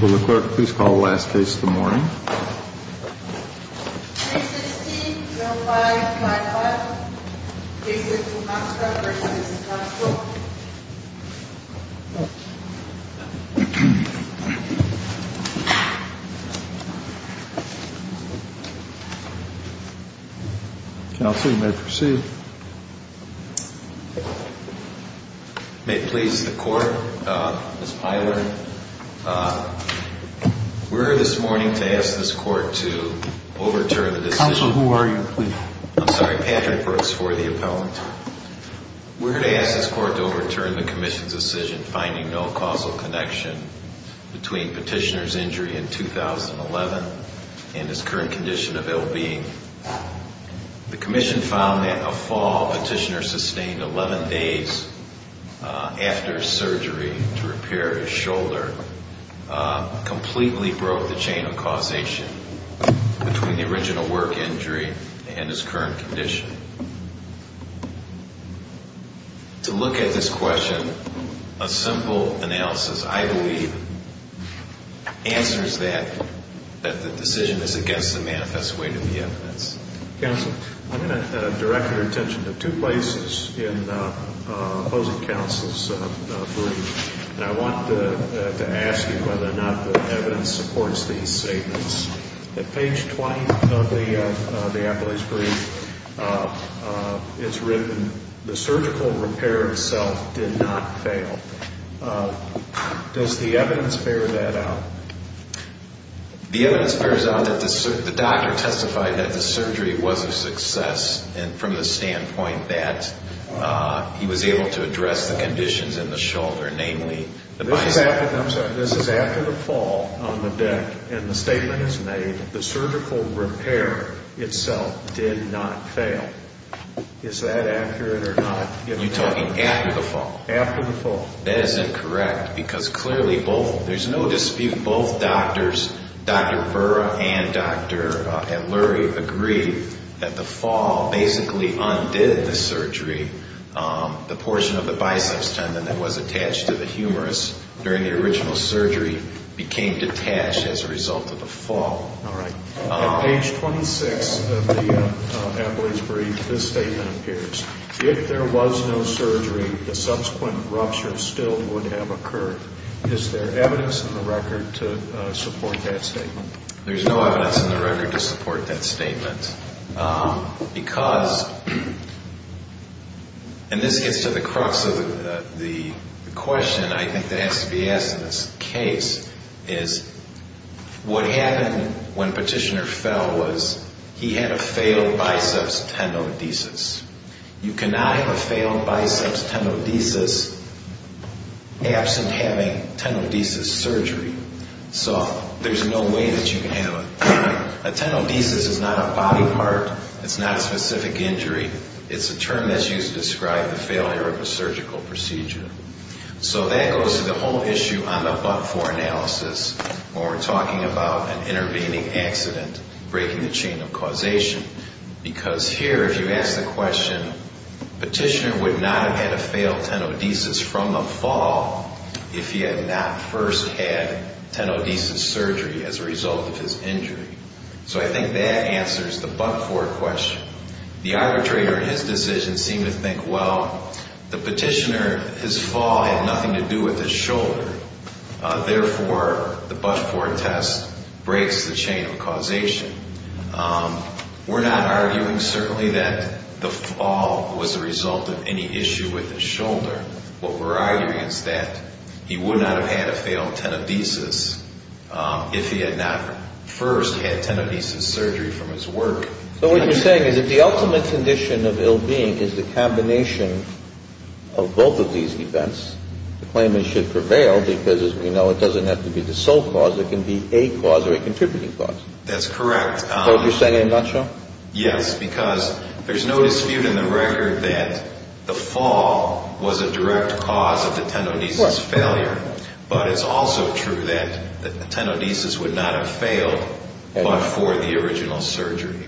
Will the clerk please call the last case of the morning? Cases T, 05, and 05. Cases for Monskow v. Monskow. Counsel, you may proceed. May it please the court, Ms. Pilar, we're here this morning to ask this court to overturn the decision. Counsel, who are you? I'm sorry, Patrick Brooks for the appellant. We're here to ask this court to overturn the commission's decision finding no causal connection between Petitioner's injury in 2011 and his current condition of ill-being. The commission found that a fall Petitioner sustained 11 days after surgery to repair his shoulder completely broke the chain of causation between the original work injury and his current condition. To look at this question, a simple analysis, I believe, answers that, that the decision is against the manifest way to the evidence. Counsel, I'm going to direct your attention to two places in the opposing counsel's brief, and I want to ask you whether or not the evidence supports these statements. At page 20 of the appellee's brief, it's written, the surgical repair itself did not fail. Does the evidence bear that out? The evidence bears out that the doctor testified that the surgery was a success, and from the standpoint that he was able to address the conditions in the shoulder, namely, I'm sorry, this is after the fall on the deck, and the statement is made, the surgical repair itself did not fail. Is that accurate or not? You're talking after the fall? After the fall. That is incorrect, because clearly both, there's no dispute, both doctors, Dr. Burra and Dr. Lurie agree that the fall basically undid the surgery. The portion of the biceps tendon that was attached to the humerus during the original surgery became detached as a result of the fall. At page 26 of the appellee's brief, this statement appears, if there was no surgery, the subsequent rupture still would have occurred. Is there evidence in the record to support that statement? There's no evidence in the record to support that statement, because, and this gets to the crux of the question I think that has to be asked in this case, is what happened when Petitioner fell was he had a failed biceps tenodesis. You cannot have a failed biceps tenodesis absent having tenodesis surgery, so there's no way that you can have it. A tenodesis is not a body part, it's not a specific injury, it's a term that's used to describe the failure of a surgical procedure. So that goes to the whole issue on the but-for analysis when we're talking about an intervening accident, breaking the chain of causation. Because here, if you ask the question, Petitioner would not have had a failed tenodesis from the fall if he had not first had tenodesis surgery as a result of his injury. So I think that answers the but-for question. The arbitrator in his decision seemed to think, well, the Petitioner, his fall had nothing to do with his shoulder. Therefore, the but-for test breaks the chain of causation. We're not arguing certainly that the fall was a result of any issue with his shoulder. What we're arguing is that he would not have had a failed tenodesis if he had not first had tenodesis surgery from his work. So what you're saying is if the ultimate condition of ill-being is the combination of both of these events, the claimant should prevail because, as we know, it doesn't have to be the sole cause. It can be a cause or a contributing cause. That's correct. So you're saying in a nutshell? Yes, because there's no dispute in the record that the fall was a direct cause of the tenodesis failure. But it's also true that the tenodesis would not have failed but for the original surgery.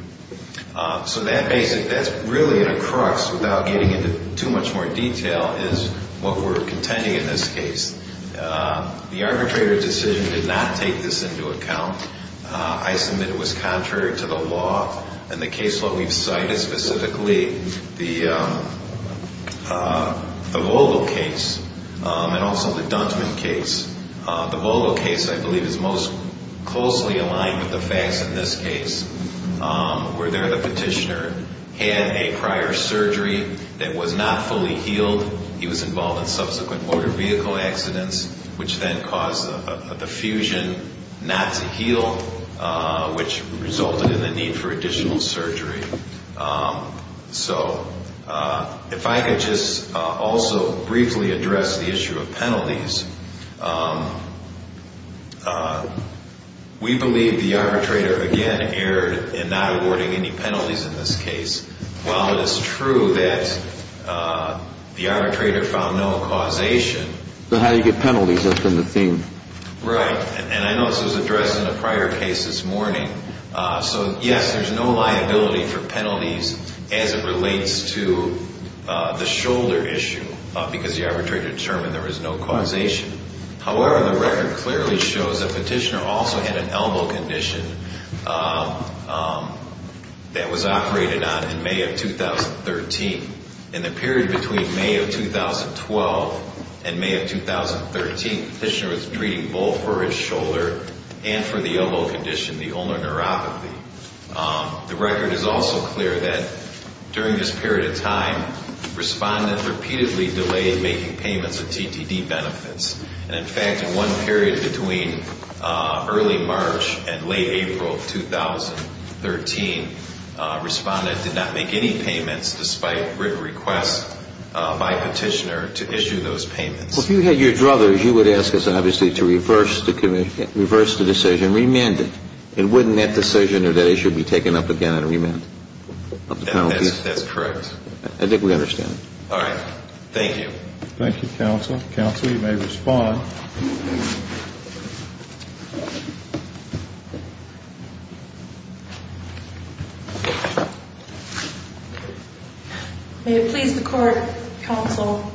So that's really in a crux, without getting into too much more detail, is what we're contending in this case. The arbitrator's decision did not take this into account. I submit it was contrary to the law. And the case law we've cited, specifically the Vogel case and also the Duntman case. The Vogel case, I believe, is most closely aligned with the facts in this case, where there the petitioner had a prior surgery that was not fully healed. He was involved in subsequent motor vehicle accidents, which then caused the fusion not to heal, which resulted in the need for additional surgery. So if I could just also briefly address the issue of penalties, we believe the arbitrator, again, erred in not awarding any penalties in this case. While it is true that the arbitrator found no causation. So how do you get penalties? That's been the theme. Right. And I know this was addressed in a prior case this morning. So, yes, there's no liability for penalties as it relates to the shoulder issue, because the arbitrator determined there was no causation. However, the record clearly shows the petitioner also had an elbow condition that was operated on in May of 2013. In the period between May of 2012 and May of 2013, the petitioner was treating both for his shoulder and for the elbow condition, the ulnar neuropathy. The record is also clear that during this period of time, respondents repeatedly delayed making payments of TTD benefits. And, in fact, in one period between early March and late April of 2013, respondents did not make any payments despite written requests by a petitioner to issue those payments. Well, if you had your druthers, you would ask us, obviously, to reverse the decision, remand it. And wouldn't that decision or that issue be taken up again in remand of the penalty? That's correct. I think we understand. All right. Thank you. Thank you, counsel. Counsel, you may respond. Thank you. May it please the court, counsel,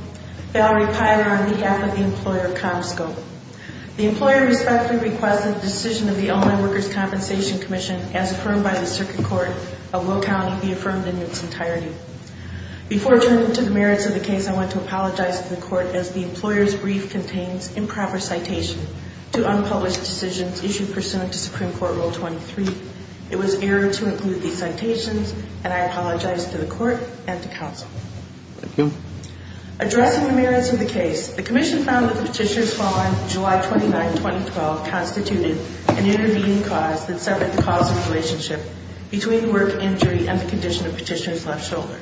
Valerie Pyler, on behalf of the employer, ComScope. The employer respectfully requests that the decision of the Ulnar Workers' Compensation Commission, as affirmed by the Circuit Court of Will County, be affirmed in its entirety. Before turning to the merits of the case, I want to apologize to the court as the employer's brief contains improper citation to unpublished decisions issued pursuant to Supreme Court Rule 23. It was error to include these citations, and I apologize to the court and to counsel. Thank you. Addressing the merits of the case, the commission found that the petitioner's fall on July 29, 2012, constituted an intervening cause that severed the causal relationship between work injury and the condition of the petitioner's left shoulder.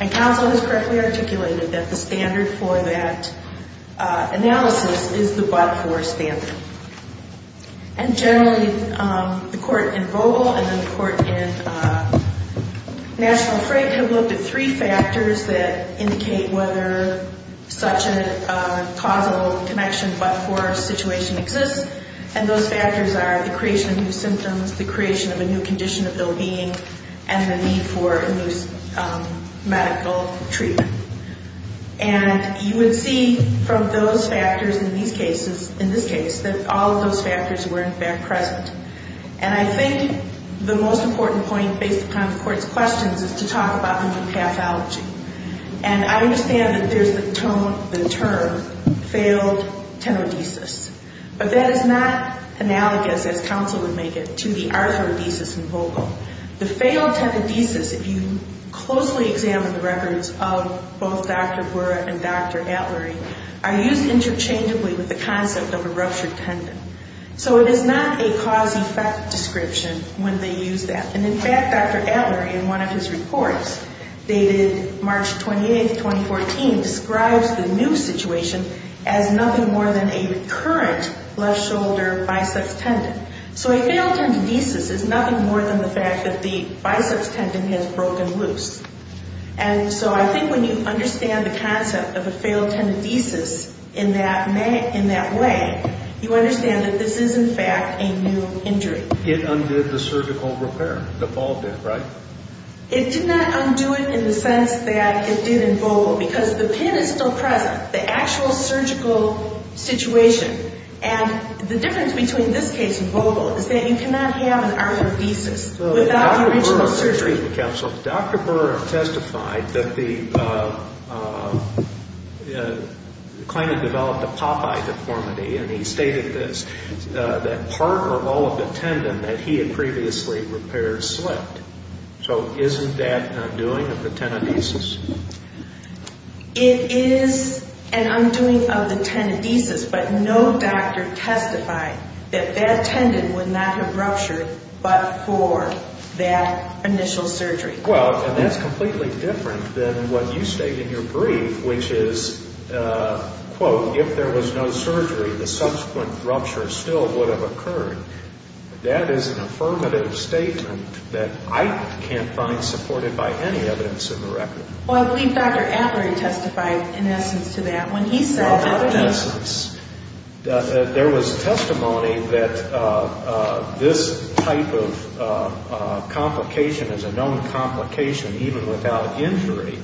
And counsel has correctly articulated that the standard for that analysis is the but-for standard. And generally, the court in Vogel and the court in National Frank have looked at three factors that indicate whether such a causal connection but-for situation exists, and those factors are the creation of new symptoms, the creation of a new condition of ill-being, and the need for a new medical treatment. And you would see from those factors in these cases, in this case, that all of those factors were, in fact, present. And I think the most important point based upon the court's questions is to talk about new pathology. And I understand that there's the term failed tenodesis, but that is not analogous, as counsel would make it, to the arthrodesis in Vogel. The failed tenodesis, if you closely examine the records of both Dr. Burra and Dr. Atlery, are used interchangeably with the concept of a ruptured tendon. So it is not a cause-effect description when they use that. And, in fact, Dr. Atlery, in one of his reports dated March 28, 2014, describes the new situation as nothing more than a recurrent left shoulder biceps tendon. So a failed tenodesis is nothing more than the fact that the biceps tendon has broken loose. And so I think when you understand the concept of a failed tenodesis in that way, you understand that this is, in fact, a new injury. It undid the surgical repair, devolved it, right? It did not undo it in the sense that it did in Vogel, because the pin is still present, the actual surgical situation. And the difference between this case and Vogel is that you cannot have an arthrodesis without the original surgery. Dr. Burra testified that the client had developed a Popeye deformity, and he stated this, that part or all of the tendon that he had previously repaired slipped. So isn't that an undoing of the tenodesis? It is an undoing of the tenodesis, but no doctor testified that that tendon would not have ruptured but for that initial surgery. Well, and that's completely different than what you state in your brief, which is, quote, if there was no surgery, the subsequent rupture still would have occurred. That is an affirmative statement that I can't find supported by any evidence in the record. Well, I believe Dr. Atler testified in essence to that when he said that he... Well, in essence, there was testimony that this type of complication is a known complication even without injury.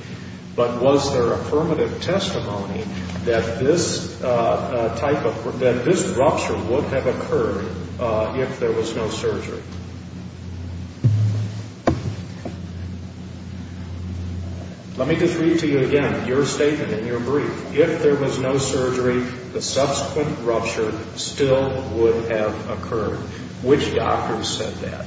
But was there affirmative testimony that this type of...that this rupture would have occurred if there was no surgery? Let me just read to you again your statement in your brief. If there was no surgery, the subsequent rupture still would have occurred. Which doctor said that?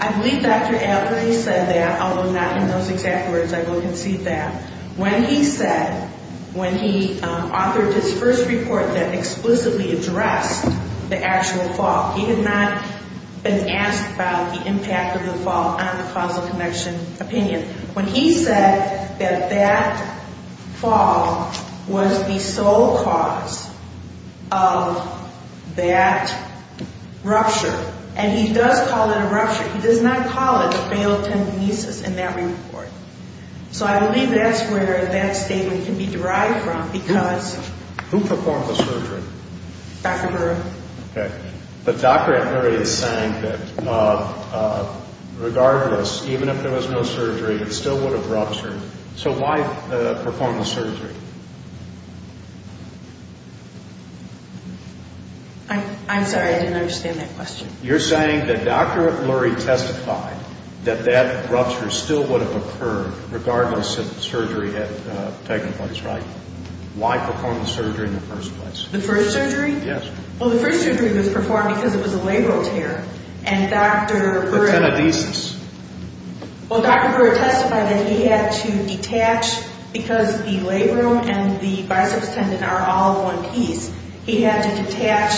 I believe Dr. Atler, he said that, although not in those exact words, I will concede that. When he said, when he authored his first report that explicitly addressed the actual fall, he had not been asked about the impact of the fall on the causal connection opinion. When he said that that fall was the sole cause of that rupture, and he does call it a rupture, he does not call it a failed tendinitis in that report. So I believe that's where that statement can be derived from because... Who performed the surgery? Dr. Baruch. Okay. But Dr. Atler is saying that, regardless, even if there was no surgery, it still would have ruptured. So why perform the surgery? I'm sorry. I didn't understand that question. You're saying that Dr. Lurie testified that that rupture still would have occurred, regardless if the surgery had taken place, right? Why perform the surgery in the first place? The first surgery? Yes. Well, the first surgery was performed because it was a labral tear, and Dr. Lurie... The tenodesis. Well, Dr. Baruch testified that he had to detach, because the labrum and the biceps tendon are all one piece, he had to detach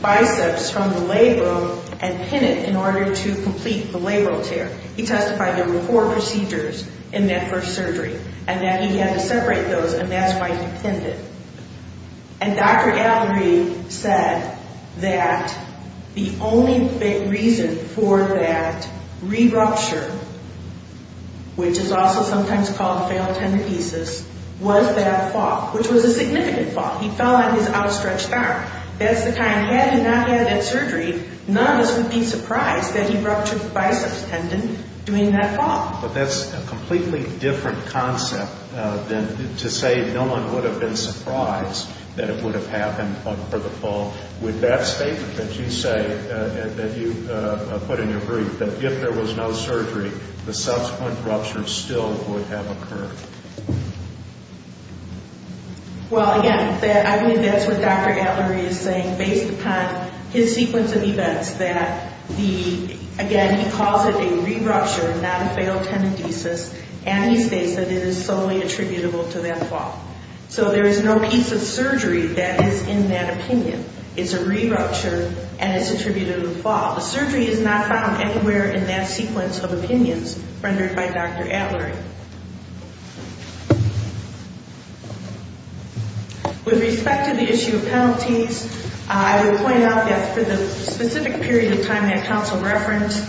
biceps from the labrum and pin it in order to complete the labral tear. He testified there were four procedures in that first surgery, and that he had to separate those, and that's why he pinned it. And Dr. Lurie said that the only reason for that rupture, which is also sometimes called failed tenodesis, was that fall, which was a significant fall. He fell on his outstretched arm. That's the kind, had he not had that surgery, none of us would be surprised that he ruptured the biceps tendon doing that fall. But that's a completely different concept than to say no one would have been surprised that it would have happened for the fall. Would that statement that you say, that you put in your brief, that if there was no surgery, the subsequent rupture still would have occurred? Well, again, I mean, that's what Dr. Lurie is saying, based upon his sequence of events, that the, again, he calls it a re-rupture, not a failed tenodesis, and he states that it is solely attributable to that fall. So there is no piece of surgery that is in that opinion. It's a re-rupture, and it's attributed to the fall. The surgery is not found anywhere in that sequence of opinions rendered by Dr. Atler. Dr. Lurie. With respect to the issue of penalties, I would point out that for the specific period of time that counsel referenced,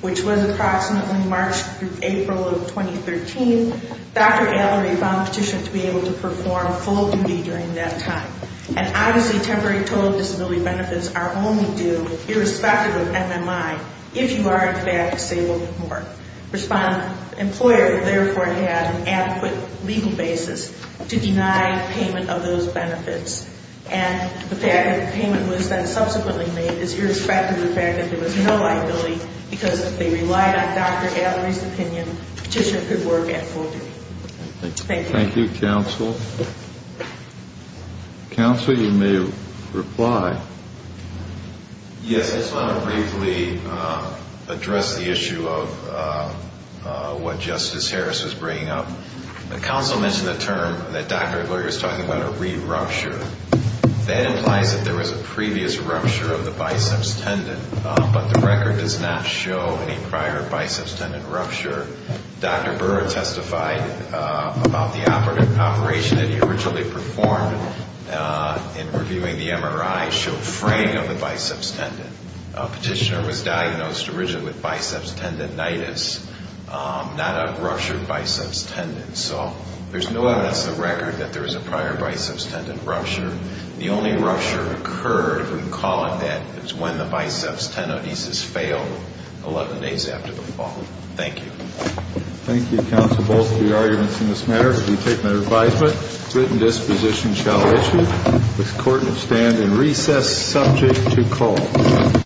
which was approximately March through April of 2013, Dr. Atler found the petition to be able to perform full duty during that time. And obviously temporary total disability benefits are only due, irrespective of MMI, if you are, in fact, disabled or more. The employer, therefore, had an adequate legal basis to deny payment of those benefits. And the fact that the payment was then subsequently made is irrespective of the fact that there was no liability, because if they relied on Dr. Atler's opinion, the petitioner could work at full duty. Thank you. Thank you, counsel. Counsel, you may reply. Yes, I just want to briefly address the issue of what Justice Harris was bringing up. The counsel mentioned the term that Dr. Lurie was talking about, a re-rupture. That implies that there was a previous rupture of the biceps tendon, but the record does not show any prior biceps tendon rupture. Dr. Burra testified about the operation that he originally performed in reviewing the MRI showing fraying of the biceps tendon. The petitioner was diagnosed originally with biceps tendonitis, not a ruptured biceps tendon. So there's no evidence in the record that there was a prior biceps tendon rupture. The only rupture occurred, if we can call it that, is when the biceps tenodesis failed 11 days after the fall. Thank you. Thank you, counsel. Both of the arguments in this matter have been taken under advisement. The written disposition shall issue. The court will stand in recess subject to call.